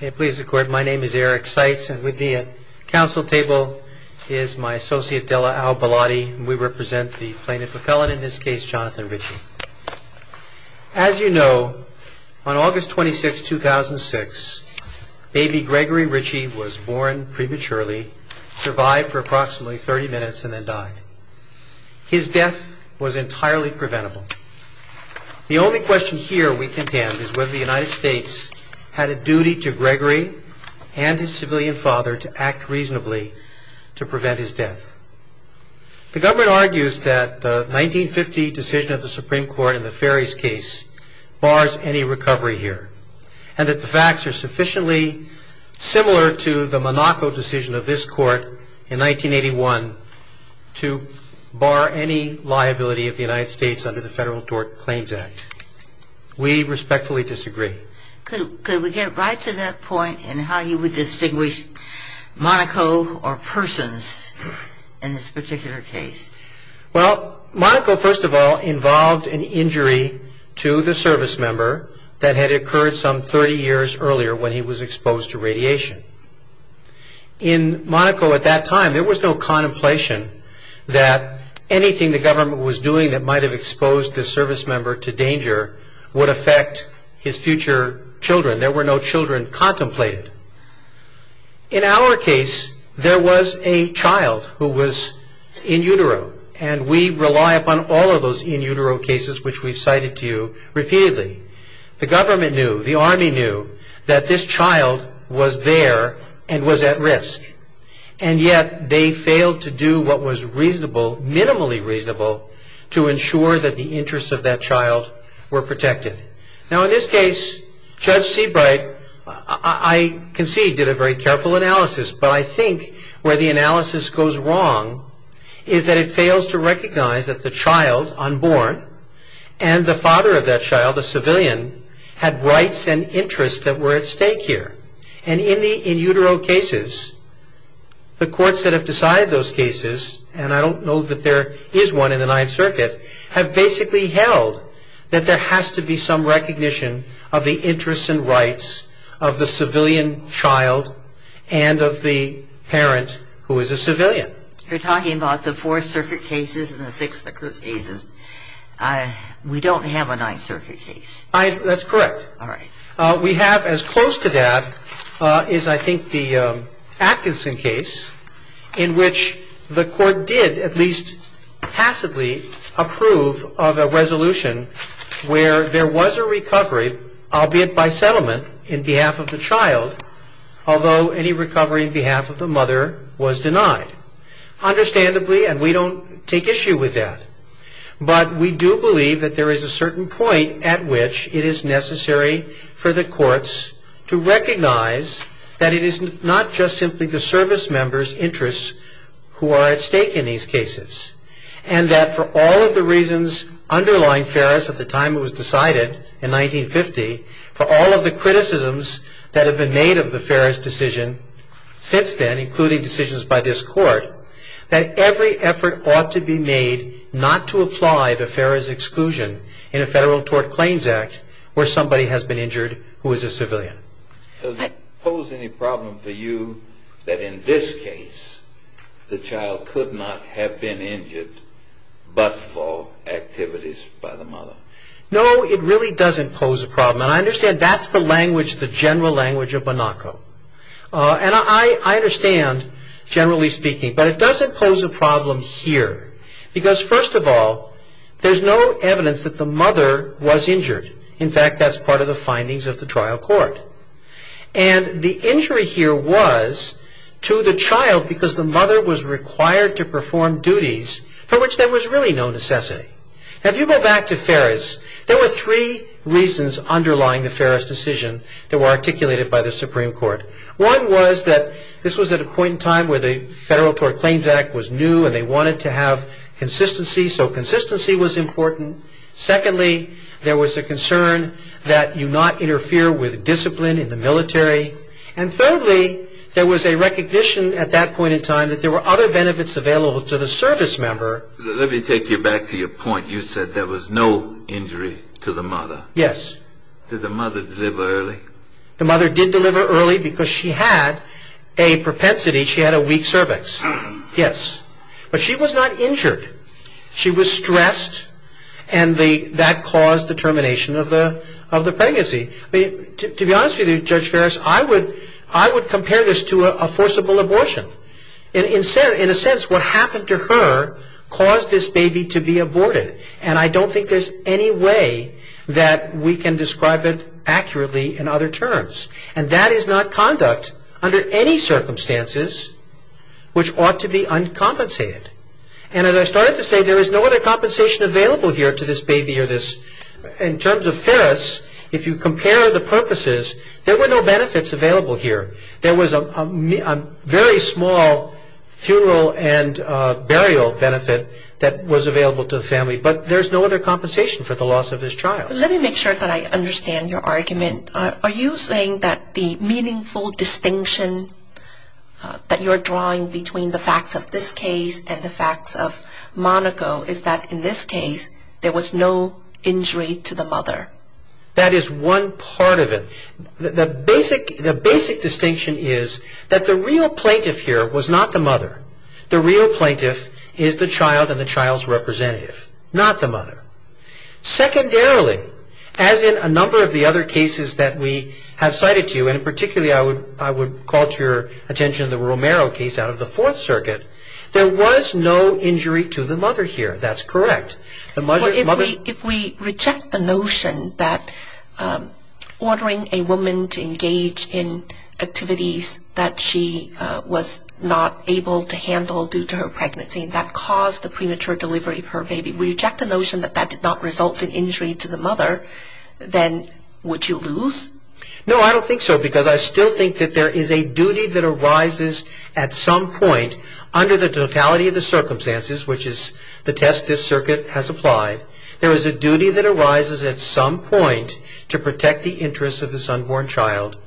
May it please the court, my name is Eric Seitz and with me at the council table is my associate, Della Al-Baladi, and we represent the plaintiff appellate, in this case, Jonathan Ritchie. As you know, on August 26, 2006, baby Gregory Ritchie was born prematurely, survived for approximately 30 minutes, and then died. His death was entirely preventable. The only question here we contend is whether the United States had a duty to Gregory and his civilian father to act reasonably to prevent his death. The government argues that the 1950 decision of the Supreme Court in the Ferries case bars any recovery here, and that the facts are sufficiently similar to the Monaco decision of this court in 1981 to bar any liability of the United States under the Federal Tort Claims Act. We respectfully disagree. Could we get right to that point in how you would distinguish Monaco or persons in this particular case? Well, Monaco, first of all, involved an injury to the service member that had occurred some 30 years earlier when he was exposed to radiation. In Monaco at that time, there was no contemplation that anything the government was doing that might have exposed this service member to danger would affect his future children. There were no children contemplated. In our case, there was a child who was in utero, and we rely upon all of those in utero cases which we've cited to you repeatedly. The government knew, the Army knew, that this child was there and was at risk, and yet they failed to do what was reasonable, minimally reasonable, to ensure that the interests of that child were protected. Now, in this case, Judge Seabright, I concede, did a very careful analysis, but I think where the analysis goes wrong is that it fails to recognize that the child unborn and the father of that child, a civilian, had rights and interests that were at stake here. And in the in utero cases, the courts that have decided those cases, and I don't know that there is one in the Ninth Circuit, have basically held that there has to be some recognition of the interests and rights of the civilian child and of the parent who is a civilian. You're talking about the Fourth Circuit cases and the Sixth Circuit cases. We don't have a Ninth Circuit case. That's correct. All right. We have, as close to that, is I think the Atkinson case, in which the Court did at least tacitly approve of a resolution where there was a recovery, albeit by settlement, in behalf of the child, although any recovery in behalf of the mother was denied. Understandably, and we don't take issue with that, but we do believe that there is a certain point at which it is necessary for the courts to recognize that it is not just simply the service members' interests who are at stake in these cases, and that for all of the reasons underlying Farris at the time it was decided in 1950, for all of the criticisms that have been made of the Farris decision since then, including decisions by this Court, that every effort ought to be made not to apply the Farris exclusion in a Federal Tort Claims Act where somebody has been injured who is a civilian. Does it pose any problem for you that in this case the child could not have been injured but for activities by the mother? No, it really doesn't pose a problem. And I understand that's the language, the general language of Bonacco. And I understand, generally speaking, but it doesn't pose a problem here because first of all, there's no evidence that the mother was injured. In fact, that's part of the findings of the trial court. And the injury here was to the child because the mother was injured. So there's really no necessity. Now if you go back to Farris, there were three reasons underlying the Farris decision that were articulated by the Supreme Court. One was that this was at a point in time where the Federal Tort Claims Act was new and they wanted to have consistency, so consistency was important. Secondly, there was a concern that you not interfere with discipline in the military. And thirdly, there was a recognition at that point in time that there were other benefits available to the service member. Let me take you back to your point. You said there was no injury to the mother. Yes. Did the mother deliver early? The mother did deliver early because she had a propensity, she had a weak cervix. Yes. But she was not injured. She was stressed and that caused the termination of the pregnancy. To be honest with you, Judge Farris, I would compare this to a forcible abortion. In a way, what happened to her caused this baby to be aborted. And I don't think there's any way that we can describe it accurately in other terms. And that is not conduct under any circumstances which ought to be uncompensated. And as I started to say, there is no other compensation available here to this baby. In terms of Farris, if you compare the purposes, there were no benefits available here. There was a very small funeral and burial benefit that was available to the family. But there's no other compensation for the loss of this child. Let me make sure that I understand your argument. Are you saying that the meaningful distinction that you're drawing between the facts of this case and the facts of Monaco is that in this case there was no injury to the mother? That is one part of it. The basic distinction is that the real plaintiff here was not the mother. The real plaintiff is the child and the child's representative, not the mother. Secondarily, as in a number of the other cases that we have cited to you, and particularly I would call to your attention the Romero case out of the Fourth Circuit, there was no injury to the mother here. That's correct. If we reject the notion that ordering a woman to engage in activities that she was not able to handle due to her pregnancy, that caused the premature delivery of her baby, we reject the notion that that did not result in injury to the mother, then would you lose? No, I don't think so, because I still think that there is a duty that arises at some point under the totality of the circumstances, which is the test this circuit has applied, there is a duty that arises at some point to protect the interests of the son-born child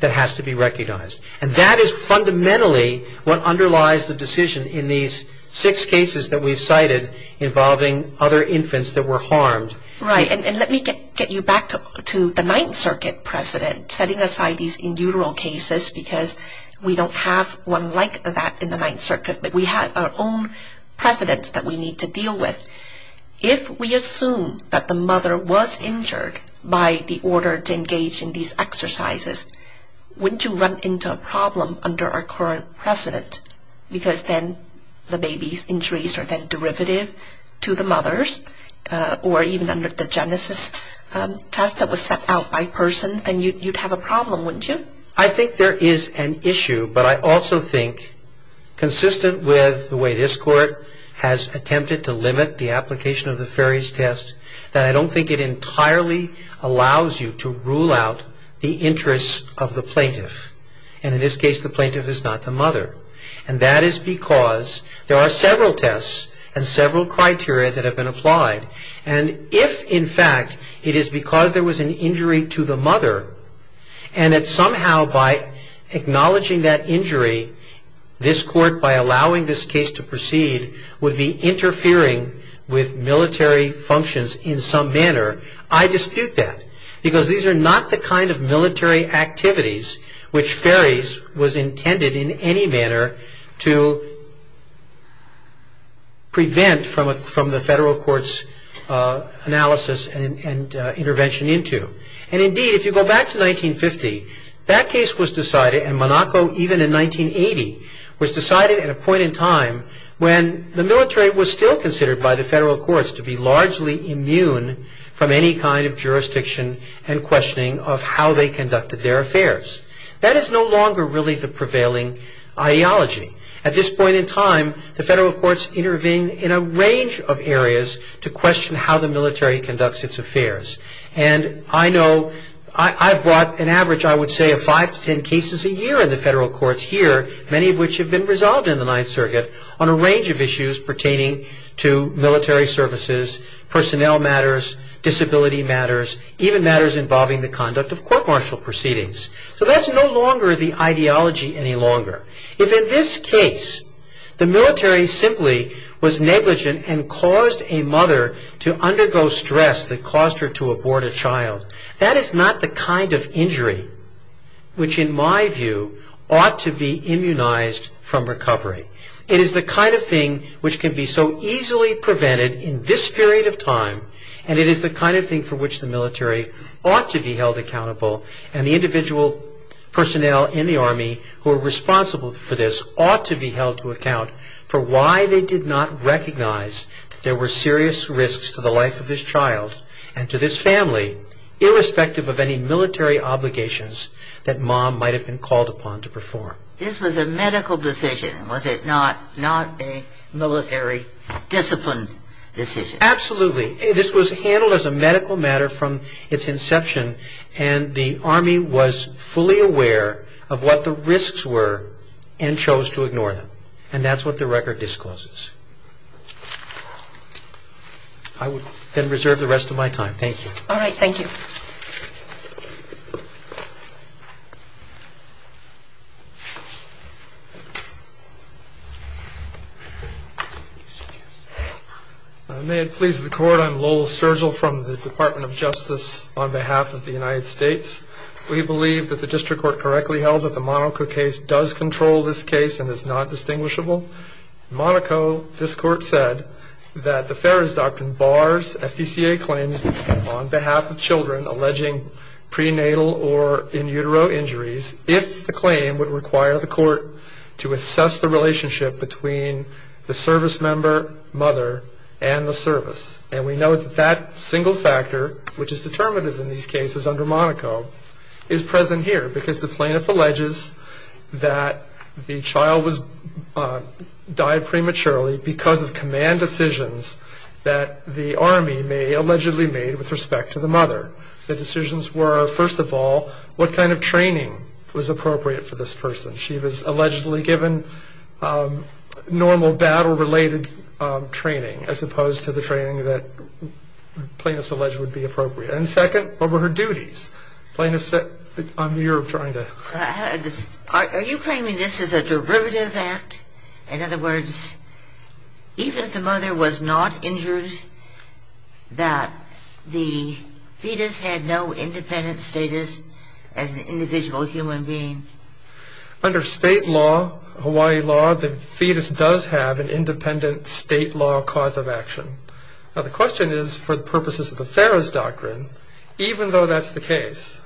that has to be recognized. And that is fundamentally what underlies the decision in these six cases that we've cited involving other infants that were harmed. Right, and let me get you back to the Ninth Circuit precedent, setting aside these in the Ninth Circuit, but we have our own precedents that we need to deal with. If we assume that the mother was injured by the order to engage in these exercises, wouldn't you run into a problem under our current precedent? Because then the baby's injuries are then derivative to the mother's, or even under the Genesis test that was set out by persons, and you would have a problem, wouldn't you? Well, I think there is an issue, but I also think, consistent with the way this court has attempted to limit the application of the Ferris test, that I don't think it entirely allows you to rule out the interests of the plaintiff. And in this case, the plaintiff is not the mother. And that is because there are several tests and several criteria that have been applied. And if, in fact, it is because there was an injury to the mother and that somehow, by acknowledging that injury, this court, by allowing this case to proceed, would be interfering with military functions in some manner, I dispute that. Because these are not the kind of military activities which Ferris was intended, in any manner, to prevent from the federal court's analysis and intervention into. And, indeed, if you go back to 1950, that case was decided, and Monaco, even in 1980, was decided at a point in time when the military was still considered by the federal courts to be largely immune from any kind of jurisdiction and questioning of how they conducted their affairs. That is no longer, really, the prevailing ideology. At this point in time, the federal courts have used a range of areas to question how the military conducts its affairs. And I know, I brought an average, I would say, of five to ten cases a year in the federal courts here, many of which have been resolved in the Ninth Circuit, on a range of issues pertaining to military services, personnel matters, disability matters, even matters involving the conduct of court-martial proceedings. So that is no longer the ideology any longer. If, in this case, the military simply was negligent and caused a mother to undergo stress that caused her to abort a child, that is not the kind of injury which, in my view, ought to be immunized from recovery. It is the kind of thing which can be so easily prevented in this period of time, and it is the kind of thing for which the military ought to be responsible for this, ought to be held to account for why they did not recognize that there were serious risks to the life of this child and to this family, irrespective of any military obligations that mom might have been called upon to perform. This was a medical decision, was it not? Not a military discipline decision? Absolutely. This was handled as a medical matter from its inception, and the Army was fully aware of what the risks were and chose to ignore them, and that is what the record discloses. I would then reserve the rest of my time. Thank you. All right. Thank you. May it please the Court, I am Lowell Sturgill from the Department of Justice on behalf of the United States. We believe that the District Court correctly held that the Monaco case does control this case and is not distinguishable. Monaco, this Court said, that the Farrer's Doctrine bars FDCA claims on behalf of children alleging prenatal or in utero injuries if the claim would require the Court to assess the relationship between the service member, mother, and the service. And we know that that single factor, which is under Monaco, is present here because the plaintiff alleges that the child died prematurely because of command decisions that the Army allegedly made with respect to the mother. The decisions were, first of all, what kind of training was appropriate for this person. She was allegedly given normal battle-related training as opposed to the training that plaintiffs alleged would be appropriate. And second, what were her duties? Plaintiffs said, you're trying to... Are you claiming this is a derivative act? In other words, even if the mother was not injured, that the fetus had no independent status as an individual human being? Under state law, Hawaii law, the fetus does have an independent state law cause of action. Now the question is, for the purposes of the Farrer's Doctrine, even though that's the case,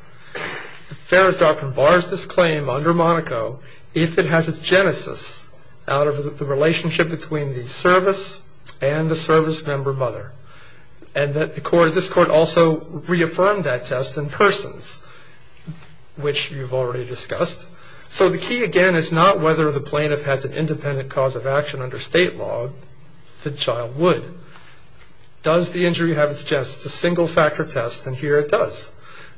the Farrer's Doctrine bars this claim under Monaco if it has a genesis out of the relationship between the service and the service member, mother. And that this Court also reaffirmed that test in persons, which you've already discussed. So the key again is not whether the plaintiff has an independent cause of action under state law. The child would. Does the injury have its chance to single factor test? And here it does.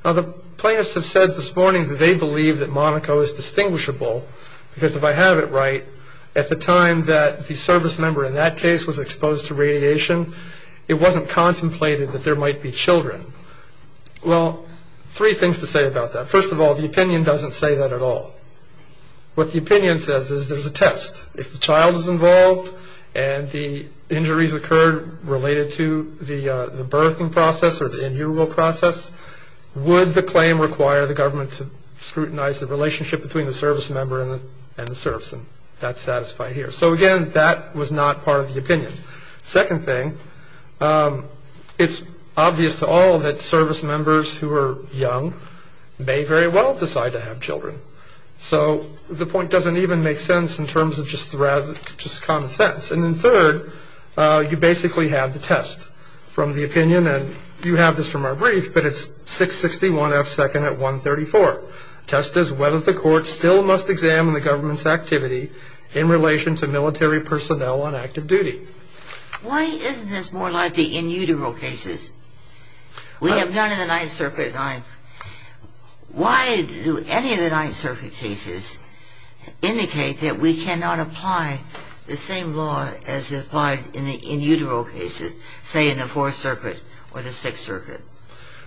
Now the plaintiffs have said this morning that they believe that Monaco is distinguishable, because if I have it right, at the time that the service member in that case was exposed to radiation, it wasn't contemplated that there might be children. Well, three things to say about that. First of all, the plaintiffs didn't say that at all. What the opinion says is there's a test. If the child is involved and the injuries occurred related to the birthing process or the in-human process, would the claim require the government to scrutinize the relationship between the service member and the service? And that's satisfied here. So again, that was not part of the opinion. Second thing, it's obvious to all that service members who are young may very well decide to have children. So the point doesn't even make sense in terms of just common sense. And then third, you basically have the test from the opinion, and you have this from our brief, but it's 661 F 2nd at 134. The test is whether the court still must examine the government's activity in relation to military personnel on active duty. Why isn't this more like the in utero cases? We have none in the Ninth Circuit. Why do any of the Ninth Circuit cases indicate that we cannot apply the same law as applied in the in utero cases, say in the Fourth Circuit or the Sixth Circuit?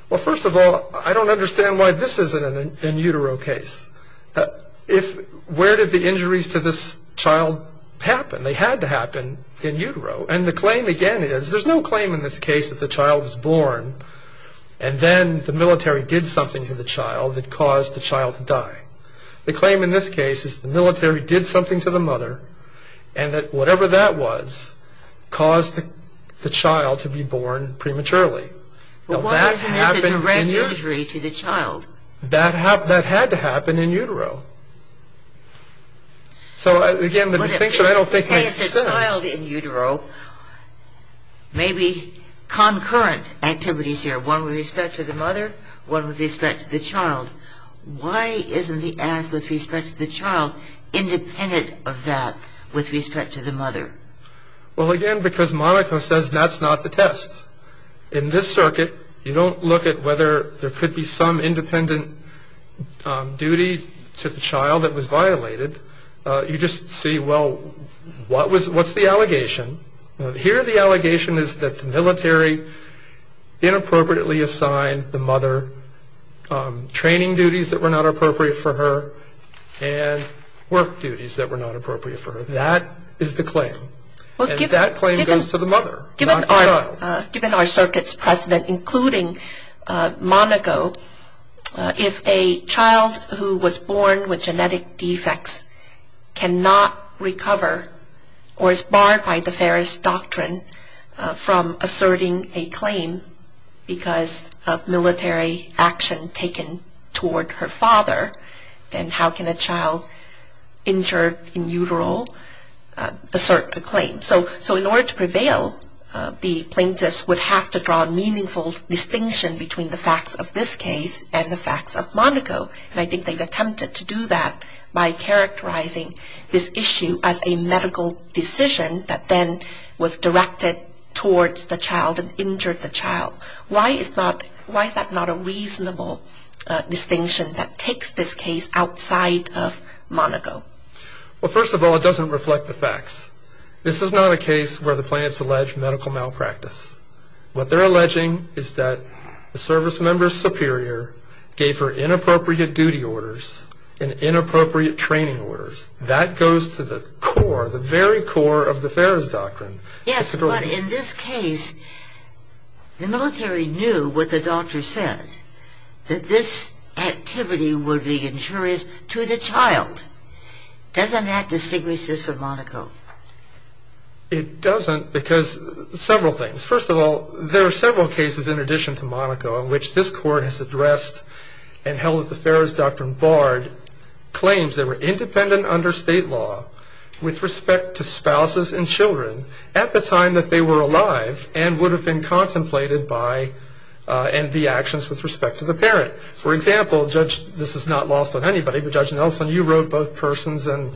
Well, first of all, I don't understand why this isn't an in utero case. Where did the injuries to this child happen? They had to happen in utero. And the claim again is, there's no claim in this case that the child was born, and then the military did something to the child that caused the child to die. The claim in this case is the military did something to the mother, and that whatever that was caused the child to be born prematurely. Well, why isn't this an irregularity to the child? That had to happen in utero. So, again, the distinction I don't think makes But if you say it's a child in utero, maybe concurrent activities here, one with respect to the mother, one with respect to the child. Why isn't the act with respect to the child independent of that with respect to the mother? Well, again, because Monica says that's not the test. In this circuit, you don't look at whether there could be some independent duty to the child that was violated. You just see, well, what's the allegation? Here the allegation is that the military inappropriately assigned the mother training duties that were not appropriate for her, and work duties that were not appropriate for her. That is the claim. And that claim goes to the mother, not the child. Given our circuit's precedent, including Monaco, if a child who was born with genetic defects cannot recover or is barred by the Ferris Doctrine from asserting a claim because of military action taken toward her father, then how can a child injured in utero assert a claim? So in order to prevail, the plaintiffs would have to draw a meaningful distinction between the facts of this case and the facts of Monaco. And I think they've attempted to do that by characterizing this issue as a medical decision that then was directed towards the child and injured the child. Why is that not a reasonable distinction that takes this case outside of Monaco? Well, first of all, it doesn't reflect the facts. This is not a case where the plaintiffs are doing this. What they're alleging is that the service member superior gave her inappropriate duty orders and inappropriate training orders. That goes to the core, the very core of the Ferris Doctrine. Yes, but in this case, the military knew what the doctor said, that this activity would be injurious to the child. Doesn't that distinguish this from Monaco? It doesn't because several things. First of all, there are several cases in addition to Monaco in which this court has addressed and held that the Ferris Doctrine barred claims that were independent under state law with respect to spouses and children at the time that they were alive and would have been contemplated by and the actions with respect to the parent. For example, Judge, this is not lost on anybody, but Judge Nelson, you wrote both persons in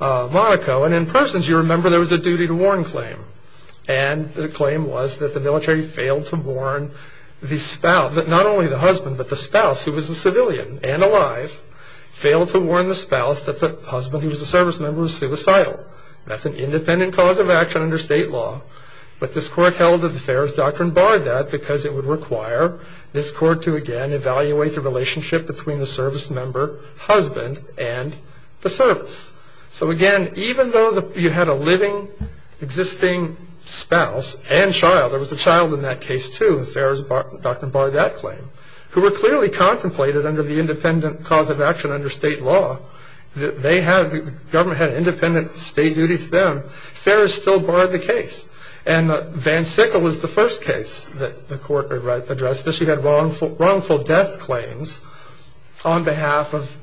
Monaco. And in persons, you remember there was a duty to warn claim. And the claim was that the military failed to warn the spouse, not only the husband, but the spouse who was a civilian and alive, failed to warn the spouse that the husband who was a service member was suicidal. That's an independent cause of action under state law. But this court held that the Ferris Doctrine barred that because it would require this court to, again, evaluate the relationship between the service member, husband, and the service. So again, even though you had a living, existing spouse and child, there was a child in that case too, the Ferris Doctrine barred that claim, who were clearly contemplated under the independent cause of action under state law. They had, the government had an independent state duty to them. Ferris still barred the case. And Van Sickle was the first case that the court addressed. She had wrongful death claims on behalf of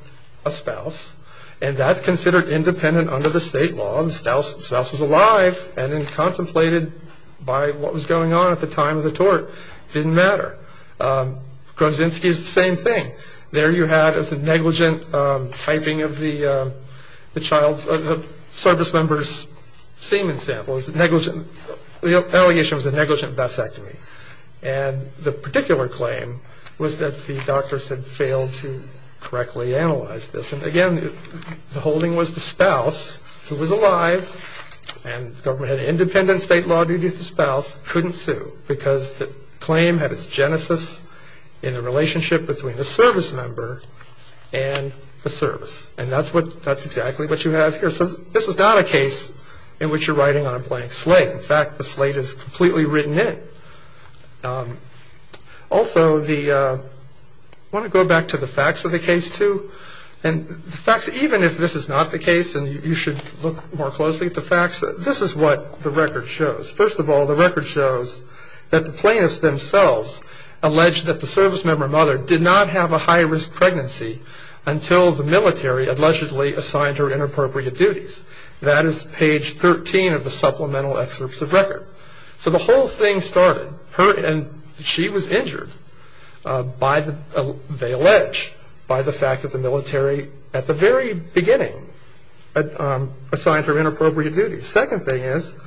a spouse. And that's considered independent under the state law. The spouse was alive and contemplated by what was going on at the time of the tort. It didn't matter. Krozinski is the same thing. There you had a negligent typing of the service member's semen sample. The allegation was a negligent vasectomy. And the particular claim was that the doctors had failed to correctly analyze this. And again, the holding was the spouse, who was alive, and the government had an independent state law duty to the spouse, couldn't sue because the claim had its genesis in the relationship between the service member and the service. And that's exactly what you have here. So this is not a case in which you're writing on a blank slate. In fact, the facts of the case, even if this is not the case, and you should look more closely at the facts, this is what the record shows. First of all, the record shows that the plaintiffs themselves alleged that the service member mother did not have a high-risk pregnancy until the military allegedly assigned her inappropriate duties. That is page 13 of the supplemental excerpts of record. So the whole thing started. And she was injured, they allege, by the fact that the military at the very beginning assigned her inappropriate duties. Second thing is,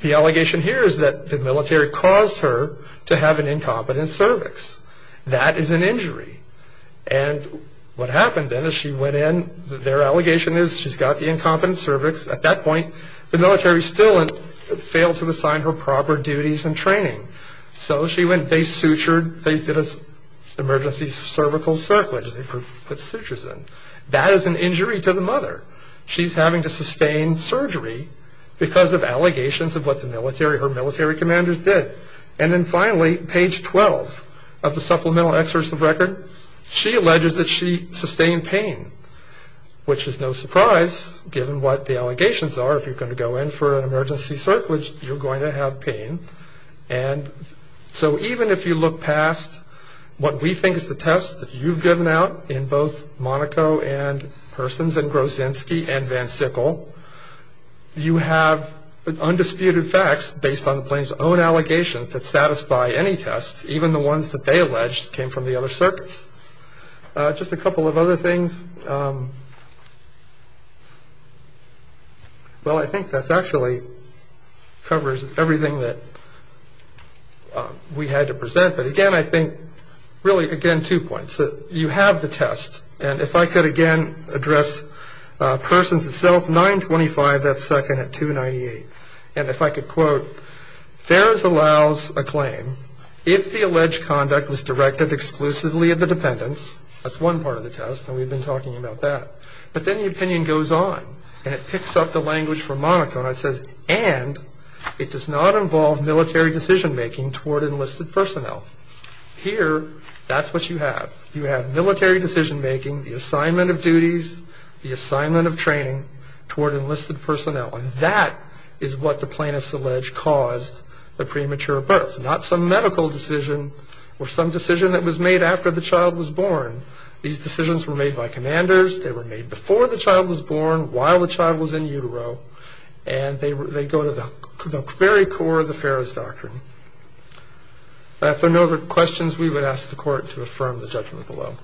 the allegation here is that the military caused her to have an incompetent cervix. That is an injury. And what happened then is she went in, their allegation is she's got the incompetent cervix. At that point, the military did not allow her to assign her proper duties and training. So they sutured, they did an emergency cervical circlage, they put sutures in. That is an injury to the mother. She's having to sustain surgery because of allegations of what her military commanders did. And then finally, page 12 of the supplemental excerpts of record, she alleges that she sustained pain, which is no surprise, given what the allegations are. If you're going to go in for an emergency circlage, you're going to have pain. And so even if you look past what we think is the test that you've given out in both Monaco and Persons and Grozinski and Van Sickle, you have undisputed facts based on the plaintiff's own allegations that satisfy any test, even the ones that they present. Well, I think that actually covers everything that we had to present. But again, I think, really again, two points. You have the test. And if I could again address Persons itself, 925 F. 2nd at 298. And if I could quote, Fares allows a claim if the alleged conduct was directed exclusively at the dependents, that's one part of the argument. But then the opinion goes on. And it picks up the language from Monaco and it says, and it does not involve military decision making toward enlisted personnel. Here, that's what you have. You have military decision making, the assignment of duties, the assignment of training toward enlisted personnel. And that is what the plaintiffs allege caused the premature birth. Not some medical decision or some decision that was made after the child was born. These decisions were made by commanders. They were made before the child was born, while the child was in utero. And they go to the very core of the Fares Doctrine. If there are no other questions, we would ask the Court to affirm the judgment below.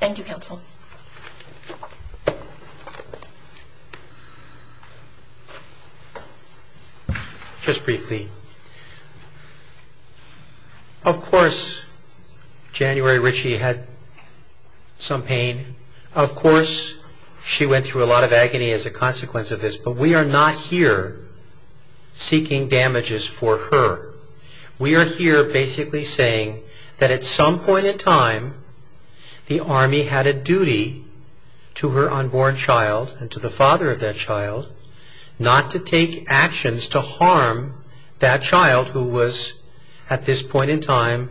Thank you, Counsel. Just briefly. Of course, January Ritchie had some pain. Of course, she went through a lot of agony as a consequence of this. But we are not here seeking damages for her. We are here basically saying that at some point in time, the mother's duty to her unborn child and to the father of that child, not to take actions to harm that child who was, at this point in time,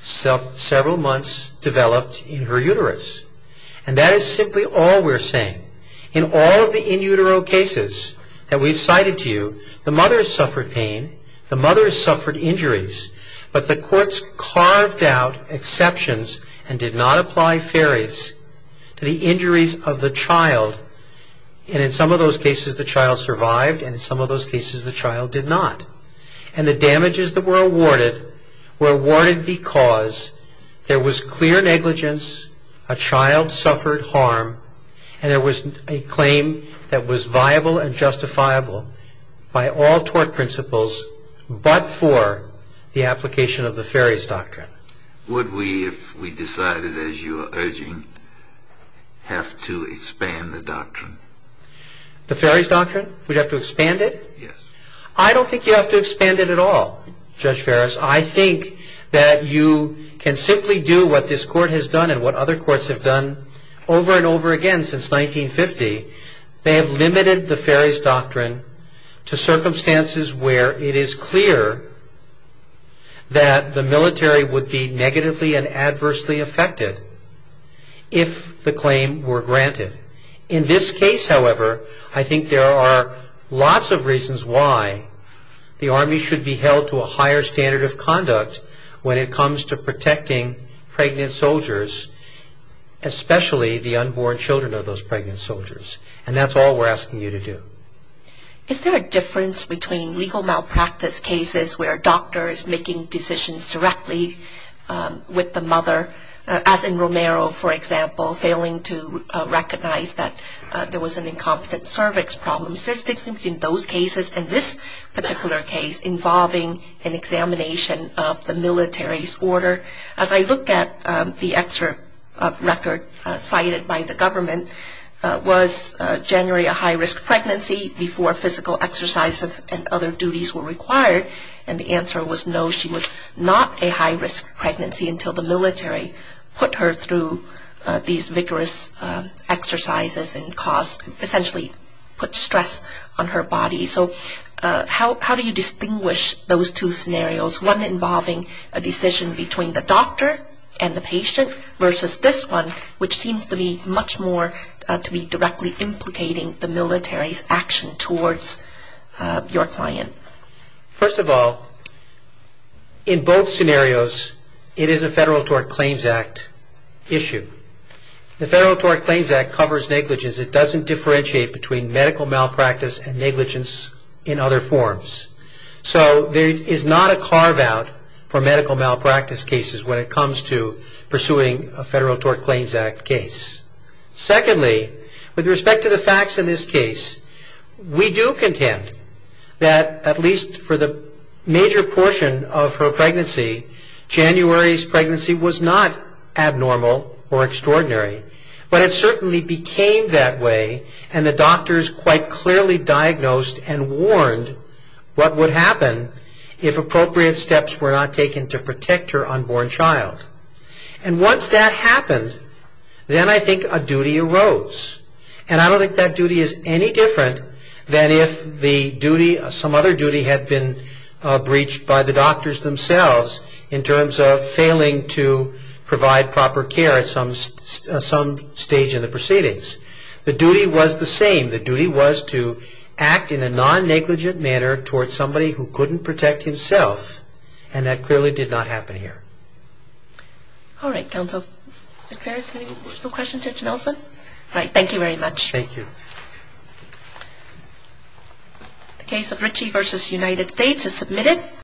several months developed in her uterus. And that is simply all we are saying. In all of the in utero cases that we have cited to you, the mother has suffered pain. The mother has suffered injuries. But the courts carved out exceptions and did not apply Fares to the injuries of the child. And in some of those cases, the child survived. And in some of those cases, the child did not. And the damages that were awarded were awarded because there was clear negligence, a child suffered harm, and there was a claim that was viable and justifiable by all tort principles but for the application of the Fares Doctrine. Would we, if we decided, as you are urging, have to expand the doctrine? The Fares Doctrine? We'd have to expand it? Yes. I don't think you have to expand it at all, Judge Fares. I think that you can simply do what this court has done and what other courts have done over and over again since 1950. They have limited the Fares Doctrine to circumstances where it is clear that the military would be negatively and adversely affected if the claim were granted. In this case, however, I think there are lots of reasons why the Army should be held to a higher standard of conduct when it comes to protecting pregnant soldiers, especially the unborn children of those pregnant soldiers. And that's all we're asking you to do. Is there a difference between legal malpractice cases where doctors making decisions directly with the mother, as in Romero, for example, failing to recognize that there was an incompetent cervix problem? Is there a difference between those cases and this particular case involving an examination of the military's order? As I look at the excerpt of record cited by the government, was January a high-risk pregnancy before physical exercises and other duties were required? And the answer was no, she was not a high-risk pregnancy until the military put her through these vigorous exercises and essentially put stress on her body. So how do you distinguish those two scenarios, one involving a decision between the doctor and the patient versus this one, which seems to be much more to be directly implicating the military's action towards your client? First of all, in both scenarios, it is a Federal Tort Claims Act issue. The Federal Tort Claims Act covers negligence. It doesn't differentiate between medical malpractice and negligence in other forms. So there is not a carve-out for medical malpractice cases when it comes to pursuing a Federal Tort Claims Act case. Secondly, with respect to the facts in this case, we do contend that at least for the major portion of her pregnancy, January's pregnancy was not abnormal or extraordinary, but it certainly became that way and the doctors quite clearly diagnosed and warned what would happen if appropriate steps were not taken. Once that happened, then I think a duty arose. I don't think that duty is any different than if some other duty had been breached by the doctors themselves in terms of failing to provide proper care at some stage in the proceedings. The duty was the same. The duty was to act in a non-negligent manner towards somebody who couldn't protect himself, and that clearly did not happen here. All right, Counsel. Mr. Ferris, any more questions for Judge Nelson? All right, thank you very much. Thank you. The case of Ritchie v. United States is submitted.